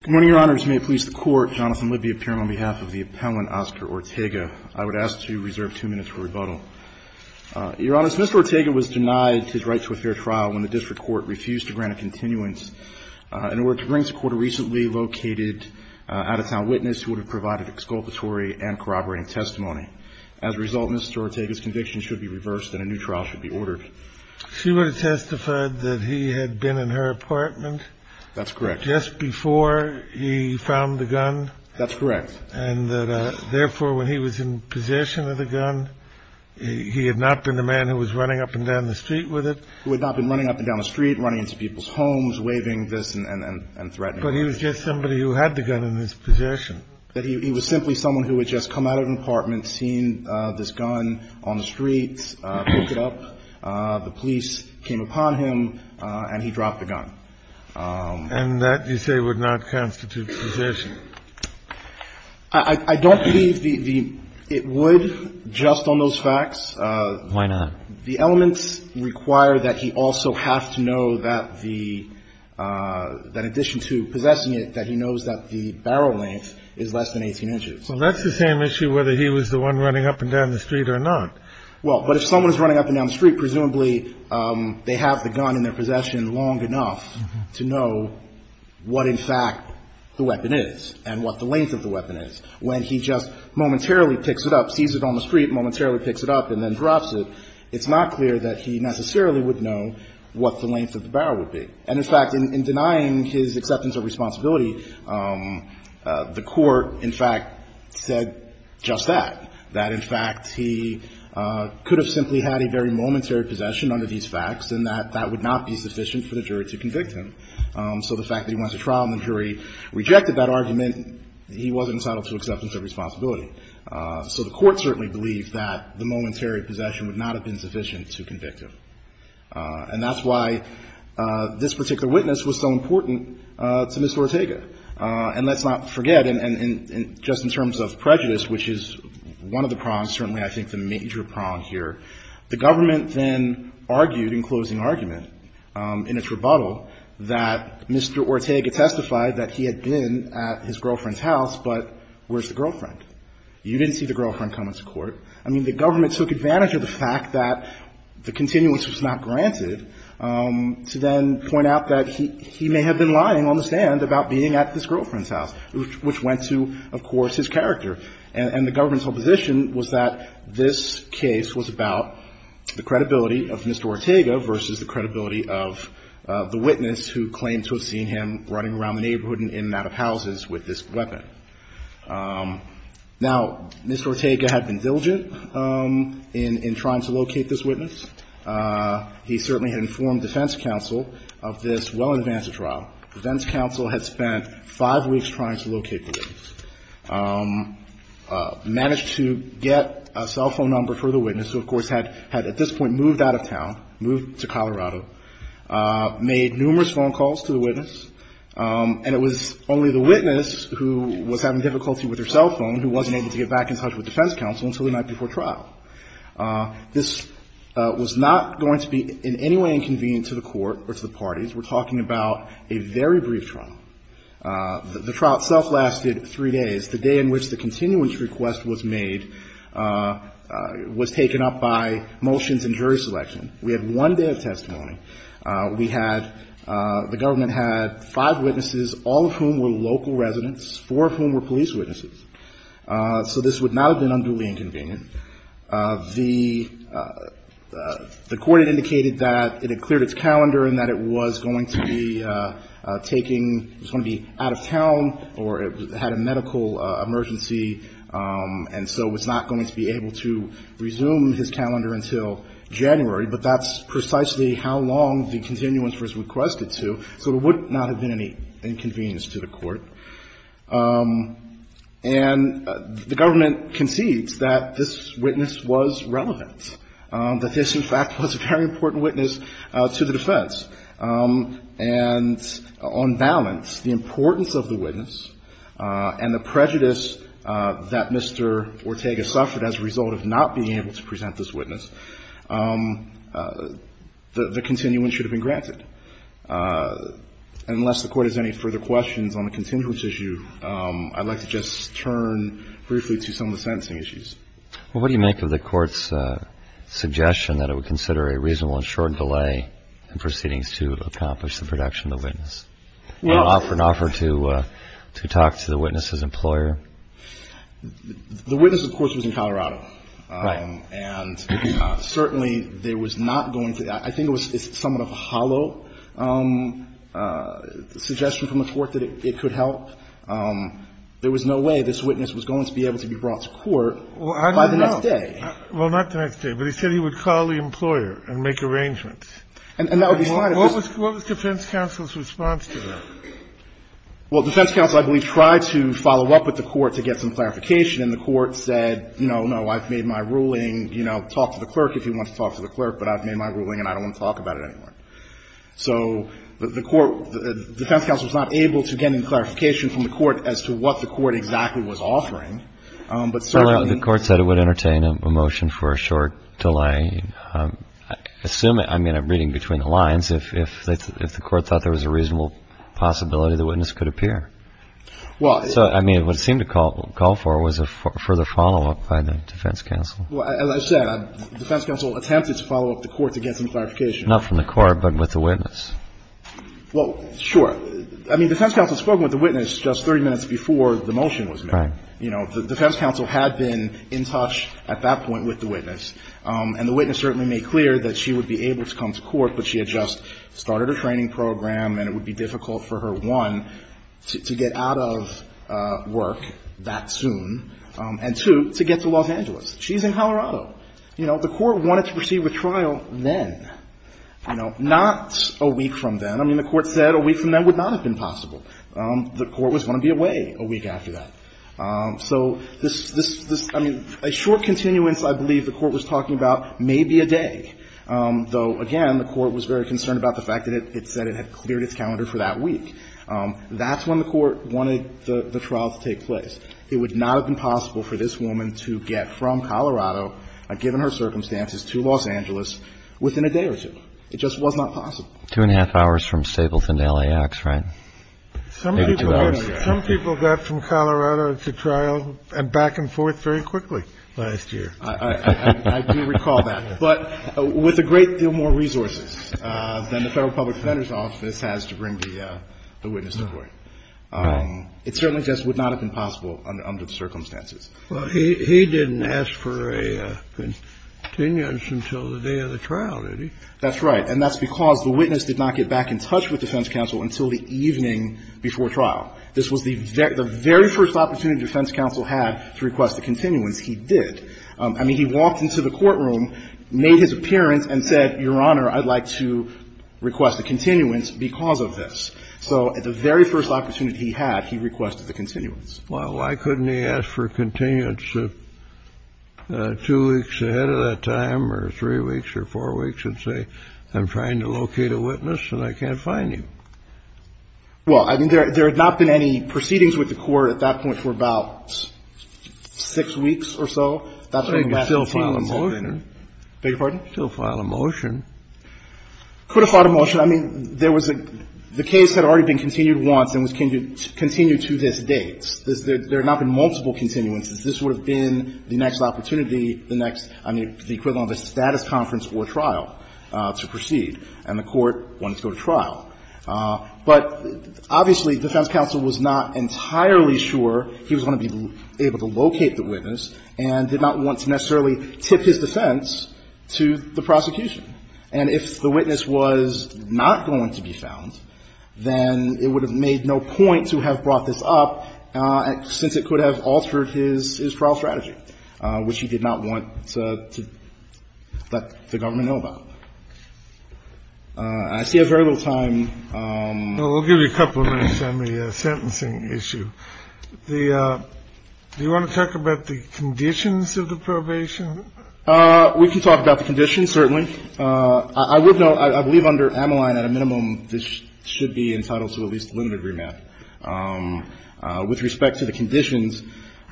Good morning, Your Honors. May it please the Court, Jonathan Libby of Pyram on behalf of the appellant Oscar Ortega, I would ask to reserve two minutes for rebuttal. Your Honors, Mr. Ortega was denied his right to a fair trial when the district court refused to grant a continuance in order to bring to court a recently located out-of-town witness who would have provided exculpatory and corroborating testimony. As a result, Mr. Ortega's conviction should be reversed and a new trial should be ordered. She would have testified that he had been in her apartment. That's correct. Just before he found the gun. That's correct. And that, therefore, when he was in possession of the gun, he had not been the man who was running up and down the street with it. Who had not been running up and down the street, running into people's homes, waving this and threatening. But he was just somebody who had the gun in his possession. That he was simply someone who had just come out of an apartment, seen this gun on the streets, picked it up, the police came upon him, and he dropped the gun. And that, you say, would not constitute possession? I don't believe the – it would, just on those facts. Why not? The elements require that he also have to know that the – that in addition to possessing it, that he knows that the barrel length is less than 18 inches. Well, that's the same issue whether he was the one running up and down the street or not. Well, but if someone is running up and down the street, presumably they have the gun in their possession long enough to know what, in fact, the weapon is and what the length of the weapon is. When he just momentarily picks it up, sees it on the street, momentarily picks it up and then drops it, it's not clear that he necessarily would know what the length of the barrel would be. And, in fact, in denying his acceptance of responsibility, the Court, in fact, said just that. That, in fact, he could have simply had a very momentary possession under these facts and that that would not be sufficient for the jury to convict him. So the fact that he went to trial and the jury rejected that argument, he wasn't entitled to acceptance of responsibility. So the Court certainly believed that the momentary possession would not have been sufficient to convict him. And that's why this particular witness was so important to Mr. Ortega. And let's not forget, just in terms of prejudice, which is one of the prongs, certainly I think the major prong here, the government then argued in closing argument in its rebuttal that Mr. Ortega testified that he had been at his girlfriend's house, but where's the girlfriend? You didn't see the girlfriend come into court. I mean, the government took advantage of the fact that the continuance was not granted to then point out that he may have been lying on the stand about being at his girlfriend's house, which went to, of course, his character. And the government's whole position was that this case was about the credibility of Mr. Ortega versus the credibility of the witness who claimed to have seen him running around the neighborhood and in and out of houses with this weapon. Now, Mr. Ortega had been diligent in trying to locate this witness. He certainly had informed defense counsel of this well in advance of trial. Defense counsel had spent five weeks trying to locate the witness, managed to get a cell phone number for the witness who, of course, had at this point moved out of town, moved to Colorado, made numerous phone calls to the witness. And it was only the witness who was having difficulty with her cell phone who wasn't able to get back in touch with defense counsel until the night before trial. This was not going to be in any way inconvenient to the Court or to the parties. We're talking about a very brief trial. The trial itself lasted three days. The day in which the continuance request was made was taken up by motions and jury selection. We had one day of testimony. We had the government had five witnesses, all of whom were local residents, four of whom were police witnesses. So this would not have been unduly inconvenient. The Court had indicated that it had cleared its calendar and that it was going to be taking – it was going to be out of town or it had a medical emergency, and so was not going to be able to resume his calendar until January. But that's precisely how long the continuance was requested to. So there would not have been any inconvenience to the Court. And the government concedes that this witness was relevant, that this, in fact, was a very important witness to the defense. And on balance, the importance of the witness and the prejudice that Mr. Ortega suffered as a result of not being able to present this witness, the continuance should have been granted. Unless the Court has any further questions on the continuance issue, I'd like to just turn briefly to some of the sentencing issues. Well, what do you make of the Court's suggestion that it would consider a reasonable and short delay in proceedings to accomplish the production of the witness? Well – And offer an offer to talk to the witness's employer? The witness, of course, was in Colorado. Right. And certainly there was not going to – I think it was somewhat of a hollow suggestion from the Court that it could help. There was no way this witness was going to be able to be brought to court by the next day. Well, I don't know. Well, not the next day. But he said he would call the employer and make arrangements. And that would be fine. What was defense counsel's response to that? Well, defense counsel, I believe, tried to follow up with the Court to get some clarification. And the Court said, no, no, I've made my ruling, you know, talk to the clerk if you want to talk to the clerk, but I've made my ruling and I don't want to talk about it anymore. So the Court – defense counsel was not able to get any clarification from the Court as to what the Court exactly was offering. But certainly – Well, the Court said it would entertain a motion for a short delay. Assume – I mean, I'm reading between the lines. If the Court thought there was a reasonable possibility the witness could appear. Well – I mean, what it seemed to call for was a further follow-up by the defense counsel. Well, as I said, defense counsel attempted to follow up the Court to get some clarification. Not from the Court, but with the witness. Well, sure. I mean, defense counsel spoke with the witness just 30 minutes before the motion was made. Right. You know, the defense counsel had been in touch at that point with the witness. And the witness certainly made clear that she would be able to come to court, but she had just started her training program and it would be difficult for her, one, to get out of work that soon, and two, to get to Los Angeles. She's in Colorado. You know, the Court wanted to proceed with trial then. You know, not a week from then. I mean, the Court said a week from then would not have been possible. The Court was going to be away a week after that. So this – I mean, a short continuance, I believe, the Court was talking about, may be a day. It was a week. Though, again, the Court was very concerned about the fact that it said it had cleared its calendar for that week. That's when the Court wanted the trial to take place. It would not have been possible for this woman to get from Colorado, given her circumstances, to Los Angeles within a day or two. It just was not possible. Two and a half hours from Stapleton to LAX, right? Maybe two hours. Some people got from Colorado to trial and back and forth very quickly last year. I do recall that. But with a great deal more resources than the Federal Public Defender's Office has to bring the witness to court. It certainly just would not have been possible under the circumstances. Well, he didn't ask for a continuance until the day of the trial, did he? That's right. And that's because the witness did not get back in touch with defense counsel until the evening before trial. This was the very first opportunity defense counsel had to request a continuance. He did. I mean, he walked into the courtroom, made his appearance, and said, Your Honor, I'd like to request a continuance because of this. So the very first opportunity he had, he requested the continuance. Well, why couldn't he ask for a continuance two weeks ahead of that time or three weeks or four weeks and say, I'm trying to locate a witness and I can't find him? Well, I mean, there had not been any proceedings with the Court at that point for about six weeks or so. But he could still file a motion. I beg your pardon? He could still file a motion. He could have filed a motion. I mean, there was a – the case had already been continued once and was continued to this date. There had not been multiple continuances. This would have been the next opportunity, the next, I mean, the equivalent of a status conference or trial to proceed, and the Court wanted to go to trial. But obviously, defense counsel was not entirely sure he was going to be able to locate the witness and did not want to necessarily tip his defense to the prosecution. And if the witness was not going to be found, then it would have made no point to have brought this up, since it could have altered his trial strategy, which he did not want to let the government know about. I see I have very little time. Well, we'll give you a couple of minutes on the sentencing issue. Do you want to talk about the conditions of the probation? We can talk about the conditions, certainly. I would note, I believe under Ameline, at a minimum, this should be entitled to at least limited remand. With respect to the conditions,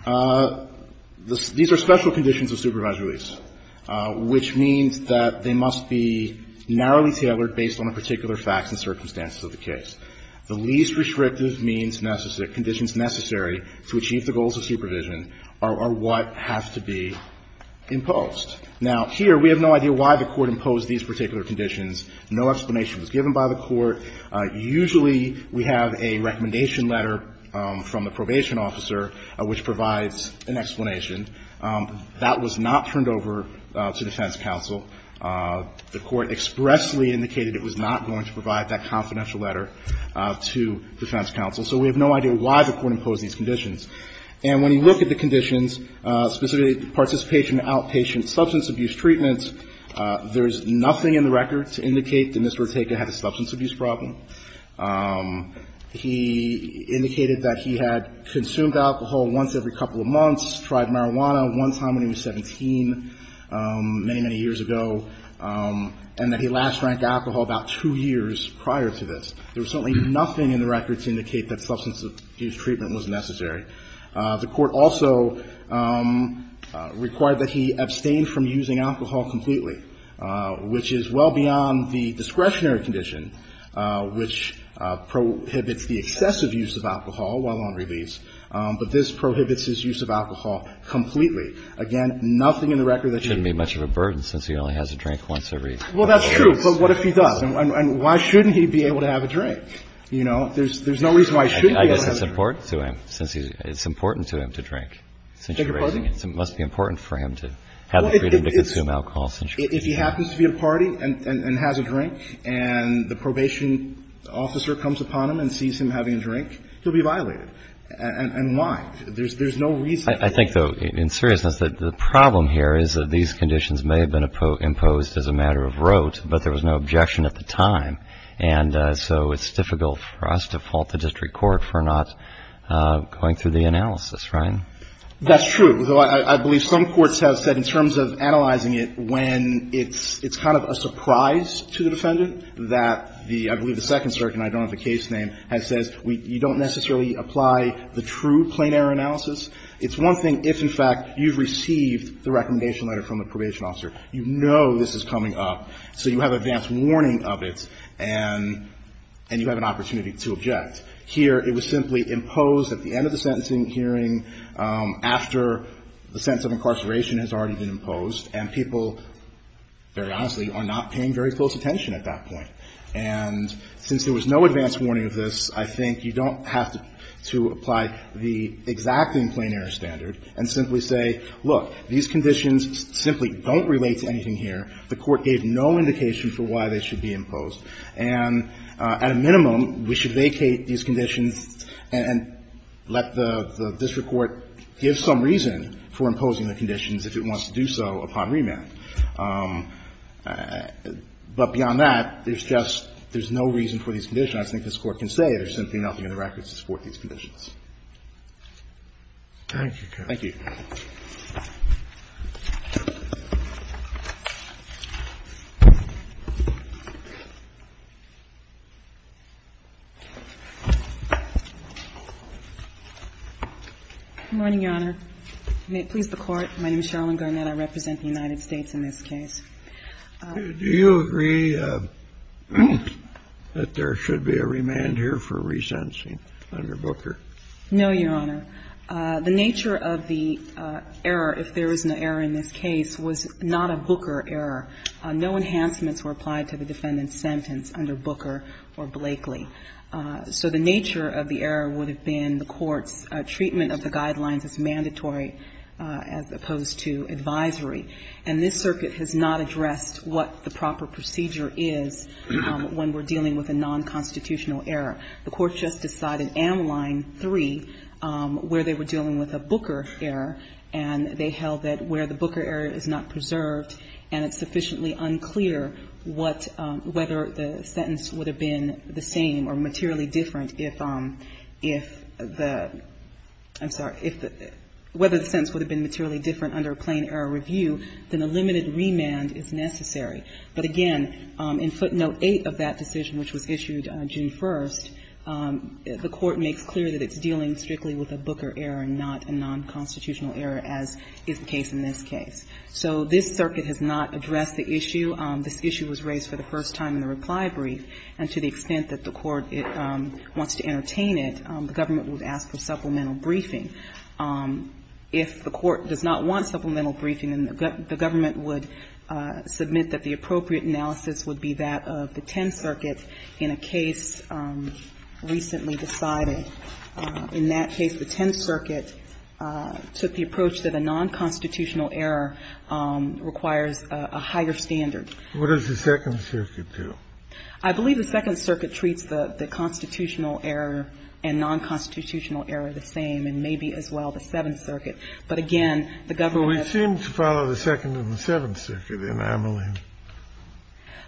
these are special conditions of supervised release, which means that they must be narrowly tailored based on a particular fact and circumstances of the case. The least restrictive means necessary, conditions necessary to achieve the goals of supervision are what have to be imposed. Now, here, we have no idea why the Court imposed these particular conditions. No explanation was given by the Court. Usually, we have a recommendation letter from the probation officer which provides an explanation. That was not turned over to defense counsel. The Court expressly indicated it was not going to provide that confidential letter to defense counsel. So we have no idea why the Court imposed these conditions. And when you look at the conditions, specifically participation in outpatient substance abuse treatments, there is nothing in the record to indicate that Mr. Ortega had a substance abuse problem. He indicated that he had consumed alcohol once every couple of months, tried marijuana one time when he was 17 many, many years ago, and that he last drank alcohol about two years prior to this. There was certainly nothing in the record to indicate that substance abuse treatment was necessary. The Court also required that he abstain from using alcohol completely, which is well beyond the discretionary condition, which prohibits the excessive use of alcohol while on release. But this prohibits his use of alcohol completely. Again, nothing in the record that you need. It shouldn't be much of a burden since he only has a drink once every couple of years. Well, that's true. But what if he does? And why shouldn't he be able to have a drink? You know, there's no reason why he shouldn't be able to have a drink. I guess it's important to him since he's – it's important to him to drink. Take your pardon? It must be important for him to have the freedom to consume alcohol since you're raising him. If he happens to be at a party and has a drink and the probation officer comes upon him and sees him having a drink, he'll be violated. And why? There's no reason. I think, though, in seriousness, that the problem here is that these conditions may have been imposed as a matter of rote, but there was no objection at the time. And so it's difficult for us to fault the district court for not going through the analysis, right? That's true. I believe some courts have said in terms of analyzing it when it's kind of a surprise to the defendant that the – I believe the Second Circuit, and I don't have the case name, has said you don't necessarily apply the true plain error analysis. It's one thing if, in fact, you've received the recommendation letter from the probation officer. You know this is coming up, so you have advance warning of it, and you have an opportunity to object. Here, it was simply imposed at the end of the sentencing hearing after the sentence of incarceration has already been imposed, and people, very honestly, are not paying very close attention at that point. And since there was no advance warning of this, I think you don't have to apply the exacting plain error standard and simply say, look, these conditions simply don't relate to anything here. The Court gave no indication for why they should be imposed. And at a minimum, we should vacate these conditions and let the district court give some reason for imposing the conditions if it wants to do so upon remand. But beyond that, there's just no reason for these conditions. I think this Court can say there's simply nothing in the records to support these Thank you, Your Honor. Thank you. May it please the Court. My name is Sherilyn Garnett. I represent the United States in this case. Do you agree that there should be a remand here for resentencing under Booker? No, Your Honor. The nature of the error, if there is an error in this case, was not a Booker error. No enhancements were applied to the defendant's sentence under Booker or Blakely. So the nature of the error would have been the Court's treatment of the guidelines as mandatory as opposed to advisory. And this circuit has not addressed what the proper procedure is when we're dealing with a nonconstitutional error. The Court just decided in Line 3 where they were dealing with a Booker error, and they held that where the Booker error is not preserved and it's sufficiently unclear what the sentence would have been the same or materially different if the, I'm sorry, whether the sentence would have been materially different under a plain error review, then a limited remand is necessary. But again, in footnote 8 of that decision, which was issued June 1st, the Court makes clear that it's dealing strictly with a Booker error and not a nonconstitutional error as is the case in this case. So this circuit has not addressed the issue. This issue was raised for the first time in the reply brief. And to the extent that the Court wants to entertain it, the government would ask for supplemental briefing. If the Court does not want supplemental briefing, then the government would submit that the appropriate analysis would be that of the Tenth Circuit in a case recently decided. In that case, the Tenth Circuit took the approach that a nonconstitutional error requires a higher standard. What does the Second Circuit do? I believe the Second Circuit treats the constitutional error and nonconstitutional error the same, and maybe as well the Seventh Circuit. But again, the government has to follow the Second and the Seventh Circuit in Ameline.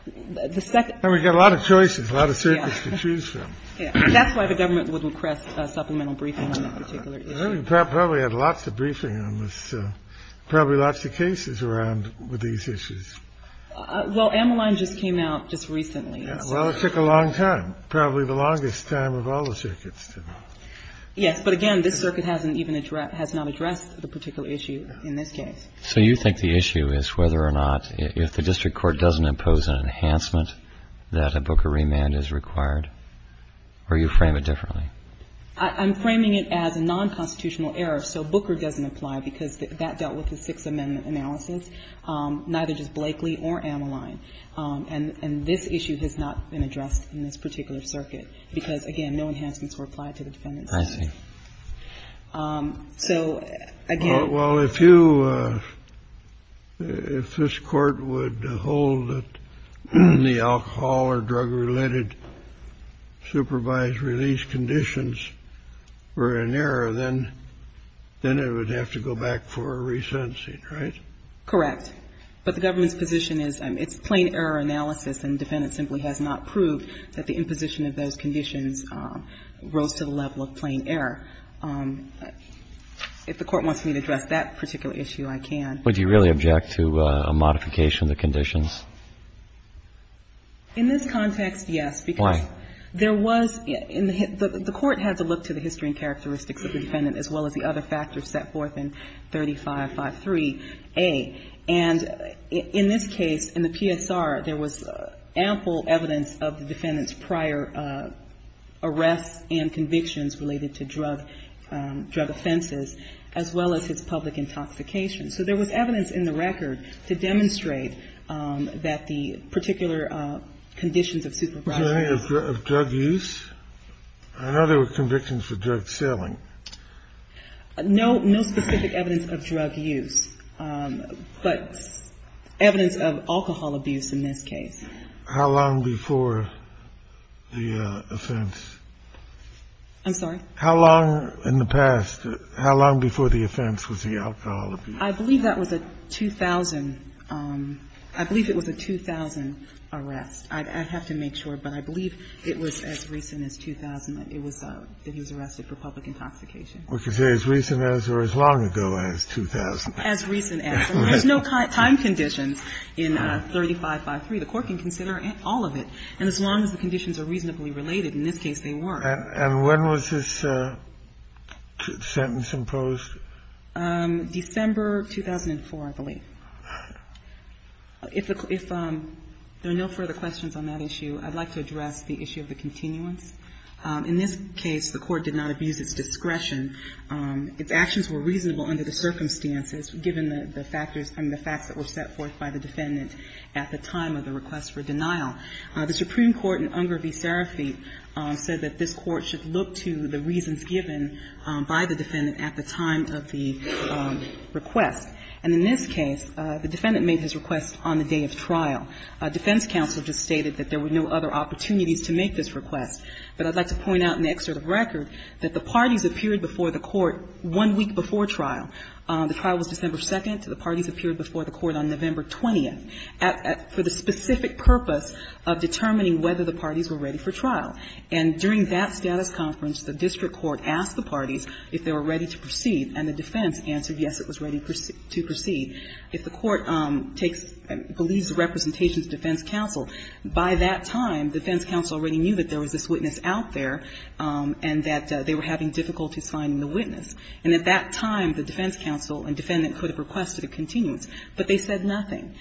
And we've got a lot of choices, a lot of circuits to choose from. That's why the government would request supplemental briefing on that particular issue. I think we probably had lots of briefing on this, probably lots of cases around with these issues. Well, Ameline just came out just recently. Well, it took a long time, probably the longest time of all the circuits. Yes. But again, this circuit hasn't even addressed the particular issue in this case. So you think the issue is whether or not, if the district court doesn't impose an enhancement, that a Booker remand is required? Or you frame it differently? I'm framing it as a nonconstitutional error. So Booker doesn't apply because that dealt with the Sixth Amendment analysis. Neither does Blakely or Ameline. And this issue has not been addressed in this particular circuit because, again, no enhancements were applied to the defendant's case. I see. So, again — Well, if you — if this Court would hold that the alcohol or drug-related supervised release conditions were in error, then it would have to go back for a resensing, right? Correct. But the government's position is it's plain error analysis, and the defendant simply has not proved that the imposition of those conditions rose to the level of plain error. If the Court wants me to address that particular issue, I can. But do you really object to a modification of the conditions? In this context, yes. Why? Because there was — the Court had to look to the history and characteristics of the defendant, as well as the other factors set forth in 3553A. And in this case, in the PSR, there was ample evidence of the defendant's prior arrests and convictions related to drug offenses, as well as his public intoxication. So there was evidence in the record to demonstrate that the particular conditions of supervised release — No specific evidence of drug use, but evidence of alcohol abuse in this case. How long before the offense? I'm sorry? How long in the past, how long before the offense was the alcohol abuse? I believe that was a 2000 — I believe it was a 2000 arrest. I have to make sure, but I believe it was as recent as 2000 that he was arrested for public intoxication. We can say as recent as or as long ago as 2000. As recent as. There's no time conditions in 3553. The Court can consider all of it. And as long as the conditions are reasonably related, in this case, they were. And when was this sentence imposed? December 2004, I believe. If there are no further questions on that issue, I'd like to address the issue of the continuance. In this case, the Court did not abuse its discretion. Its actions were reasonable under the circumstances, given the factors and the facts that were set forth by the defendant at the time of the request for denial. The Supreme Court in Unger v. Serafit said that this Court should look to the reasons given by the defendant at the time of the request. And in this case, the defendant made his request on the day of trial. Defense counsel just stated that there were no other opportunities to make this request. But I'd like to point out in the excerpt of record that the parties appeared before the Court one week before trial. The trial was December 2nd. The parties appeared before the Court on November 20th for the specific purpose of determining whether the parties were ready for trial. And during that status conference, the district court asked the parties if they were ready to proceed, and the defense answered yes, it was ready to proceed. If the Court takes, believes the representations of defense counsel, by that time, defense counsel already knew that there was this witness out there and that they were having difficulties finding the witness. And at that time, the defense counsel and defendant could have requested a continuance, but they said nothing.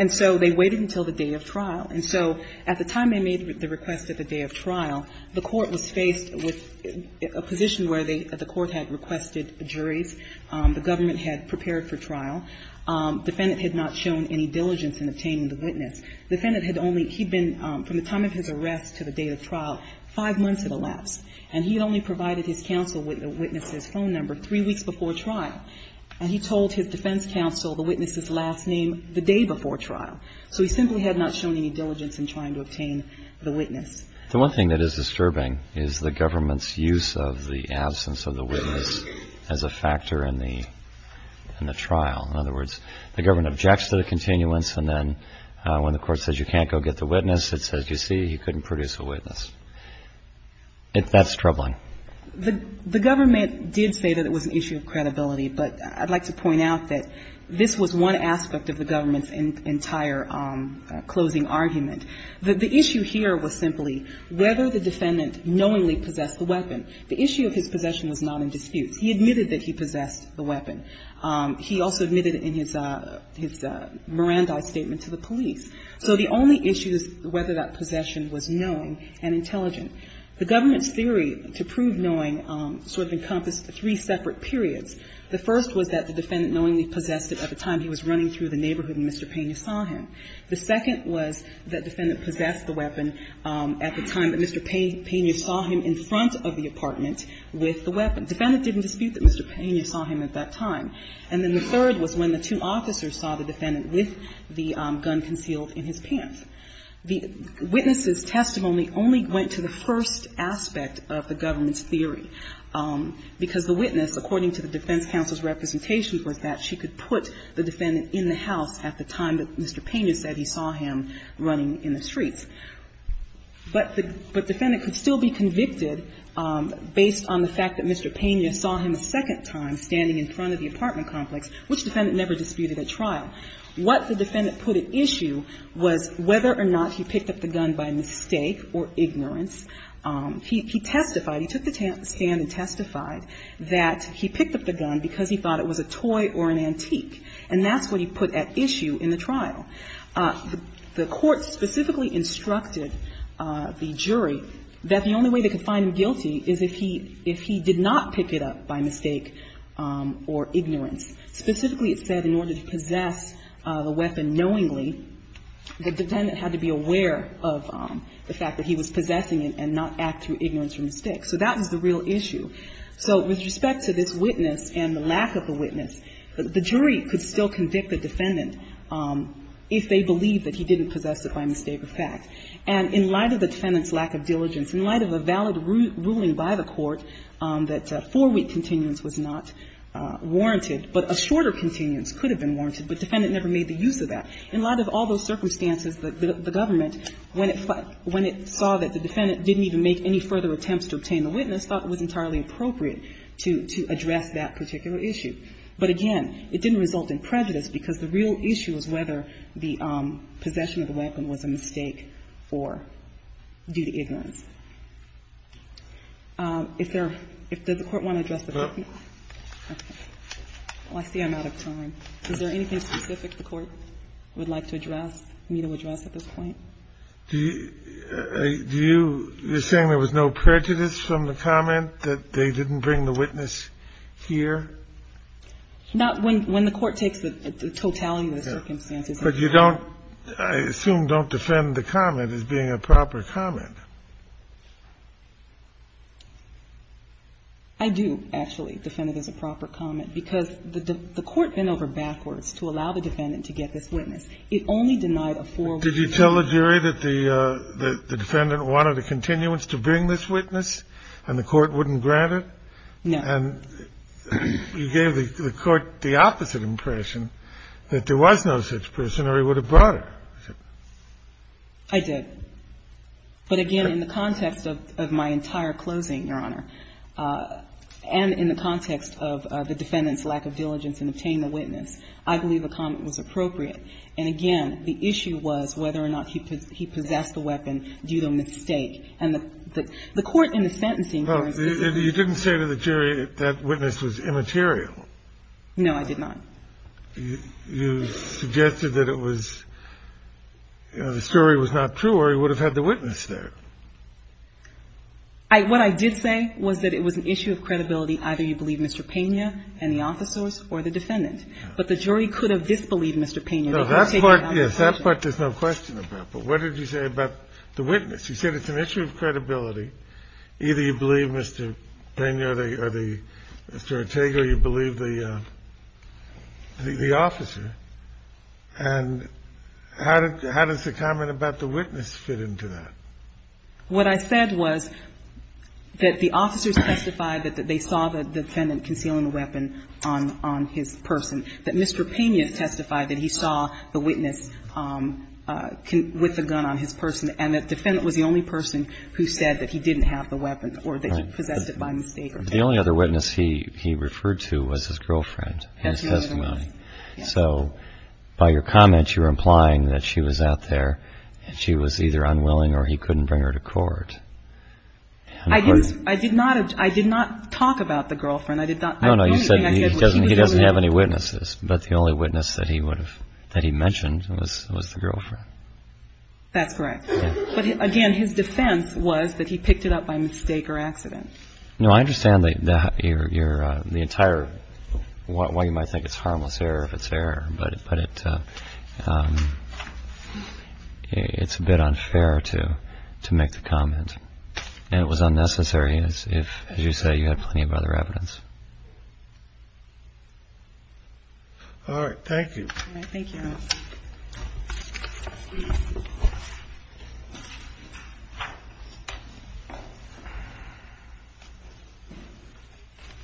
And so they waited until the day of trial. And so at the time they made the request at the day of trial, the Court was faced with a position where the Court had requested juries. The government had prepared for trial. Defendant had not shown any diligence in obtaining the witness. Defendant had only, he'd been, from the time of his arrest to the date of trial, five months had elapsed. And he had only provided his counsel a witness's phone number three weeks before trial. And he told his defense counsel the witness's last name the day before trial. So he simply had not shown any diligence in trying to obtain the witness. The one thing that is disturbing is the government's use of the absence of the witness as a factor in the trial. In other words, the government objects to the continuance, and then when the Court says you can't go get the witness, it says, you see, he couldn't produce a witness. That's troubling. The government did say that it was an issue of credibility, but I'd like to point out that this was one aspect of the government's entire closing argument. The issue here was simply whether the defendant knowingly possessed the weapon. The issue of his possession was not in dispute. He admitted that he possessed the weapon. He also admitted in his Mirandai statement to the police. So the only issue is whether that possession was knowing and intelligent. The government's theory to prove knowing sort of encompassed three separate periods. The first was that the defendant knowingly possessed it at the time he was running through the neighborhood and Mr. Pena saw him. The second was that defendant possessed the weapon at the time that Mr. Pena saw him in front of the apartment with the weapon. Defendant didn't dispute that Mr. Pena saw him at that time. And then the third was when the two officers saw the defendant with the gun concealed in his pants. The witness's testimony only went to the first aspect of the government's theory, because the witness, according to the defense counsel's representation was that she could put the defendant in the house at the time that Mr. Pena said he saw him running in the streets. But the defendant could still be convicted based on the fact that Mr. Pena saw him a second time standing in front of the apartment complex, which defendant never disputed at trial. What the defendant put at issue was whether or not he picked up the gun by mistake or ignorance. He testified. He took the stand and testified that he picked up the gun because he thought it was a toy or an antique. And that's what he put at issue in the trial. The court specifically instructed the jury that the only way they could find him guilty is if he did not pick it up by mistake or ignorance. Specifically, it said in order to possess the weapon knowingly, the defendant had to be aware of the fact that he was possessing it and not act through ignorance or mistake. So that was the real issue. So with respect to this witness and the lack of a witness, the jury could still convict the defendant if they believed that he didn't possess it by mistake or fact. And in light of the defendant's lack of diligence, in light of a valid ruling by the court that four-week continuance was not warranted, but a shorter continuance could have been warranted, but the defendant never made the use of that, in light of all those circumstances, the government, when it saw that the defendant didn't even make any further attempts to obtain the witness, thought it was entirely appropriate to address that particular issue. But again, it didn't result in prejudice because the real issue was whether the possession of the weapon was a mistake or due to ignorance. If there are – does the Court want to address the question? I see I'm out of time. Is there anything specific the Court would like to address, need to address at this point? Do you – you're saying there was no prejudice from the comment that they didn't bring the witness here? Not when the Court takes the totality of the circumstances. But you don't – I assume don't defend the comment as being a proper comment. I do, actually, defend it as a proper comment, because the Court bent over backwards to allow the defendant to get this witness. It only denied a four-week continuance. Did you tell the jury that the defendant wanted a continuance to bring this witness and the Court wouldn't grant it? No. And you gave the Court the opposite impression, that there was no such person or he would have brought it. I did. But again, in the context of my entire closing, Your Honor, and in the context of the defendant's lack of diligence in obtaining the witness, I believe a comment was appropriate. And again, the issue was whether or not he possessed the weapon due to a mistake. And the Court in the sentencing case is the same. Well, you didn't say to the jury that that witness was immaterial. No, I did not. You suggested that it was – the story was not true or he would have had the witness there. What I did say was that it was an issue of credibility. Either you believe Mr. Pena and the officers or the defendant. But the jury could have disbelieved Mr. Pena. No, that part, yes. That part there's no question about. But what did you say about the witness? You said it's an issue of credibility. Either you believe Mr. Pena or Mr. Ortega or you believe the officer. And how does the comment about the witness fit into that? What I said was that the officers testified that they saw the defendant concealing their own weapon on his person, that Mr. Pena testified that he saw the witness with the gun on his person, and that the defendant was the only person who said that he didn't have the weapon or that he possessed it by mistake. The only other witness he referred to was his girlfriend in his testimony. So by your comment, you're implying that she was out there and she was either unwilling or he couldn't bring her to court. I did not talk about the girlfriend. No, no, you said he doesn't have any witnesses, but the only witness that he mentioned was the girlfriend. That's correct. But, again, his defense was that he picked it up by mistake or accident. No, I understand the entire why you might think it's harmless error if it's error, but it's a bit unfair to make the comment. And it was unnecessary if, as you say, you had plenty of other evidence. All right. Thank you. All right. Thank you.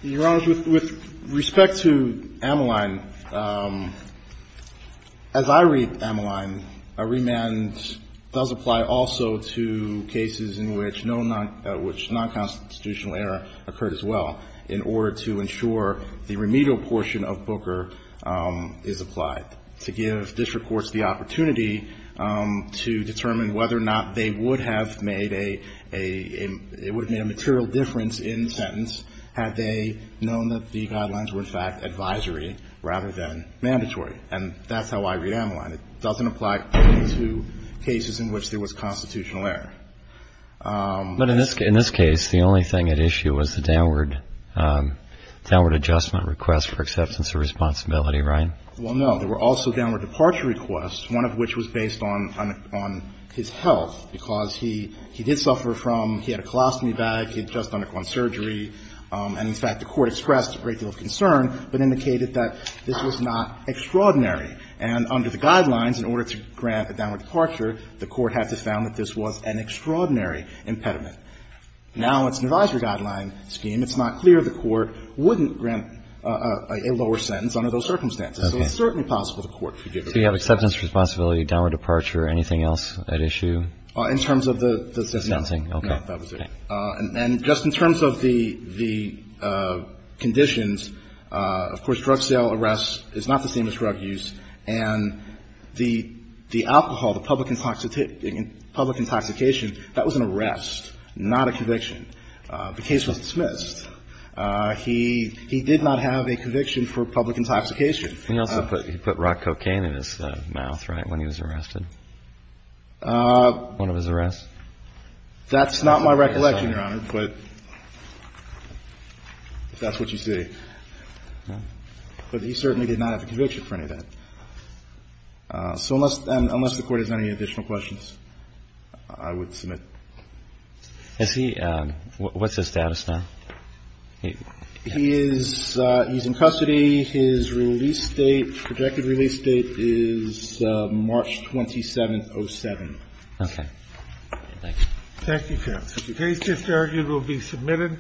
Your Honor, with respect to Ameline, as I read Ameline, a remand does apply also to cases in which nonconstitutional error occurred as well in order to ensure the remedial portion of Booker is applied, to give district courts the opportunity to determine whether or not they would have made a material difference in the sentence had they known that the guidelines were, in fact, advisory rather than mandatory. And that's how I read Ameline. It doesn't apply to cases in which there was constitutional error. But in this case, the only thing at issue was the downward adjustment request for acceptance of responsibility, right? Well, no. There were also downward departure requests, one of which was based on his health, because he did suffer from he had a colostomy bag, he had just undergone surgery, and, in fact, the Court expressed a great deal of concern but indicated that this was not extraordinary. And under the guidelines, in order to grant a downward departure, the Court had to found that this was an extraordinary impediment. Now, it's an advisory guideline scheme. It's not clear the Court wouldn't grant a lower sentence under those circumstances. So it's certainly possible the Court forgave him. So you have acceptance, responsibility, downward departure, anything else at issue? In terms of the sentencing. No. Okay. No, that was it. And just in terms of the conditions, of course, drug sale, arrest is not the same as drug use. And the alcohol, the public intoxication, that was an arrest, not a conviction. The case was dismissed. He did not have a conviction for public intoxication. And he also put rock cocaine in his mouth, right, when he was arrested, one of his arrests? That's not my recollection, Your Honor, but if that's what you see. But he certainly did not have a conviction for any of that. So unless the Court has any additional questions, I would submit. Is he ‑‑ what's his status now? He is in custody. His release date, projected release date is March 27th, 07. Okay. Thank you. Thank you, counsel. The case just argued will be submitted.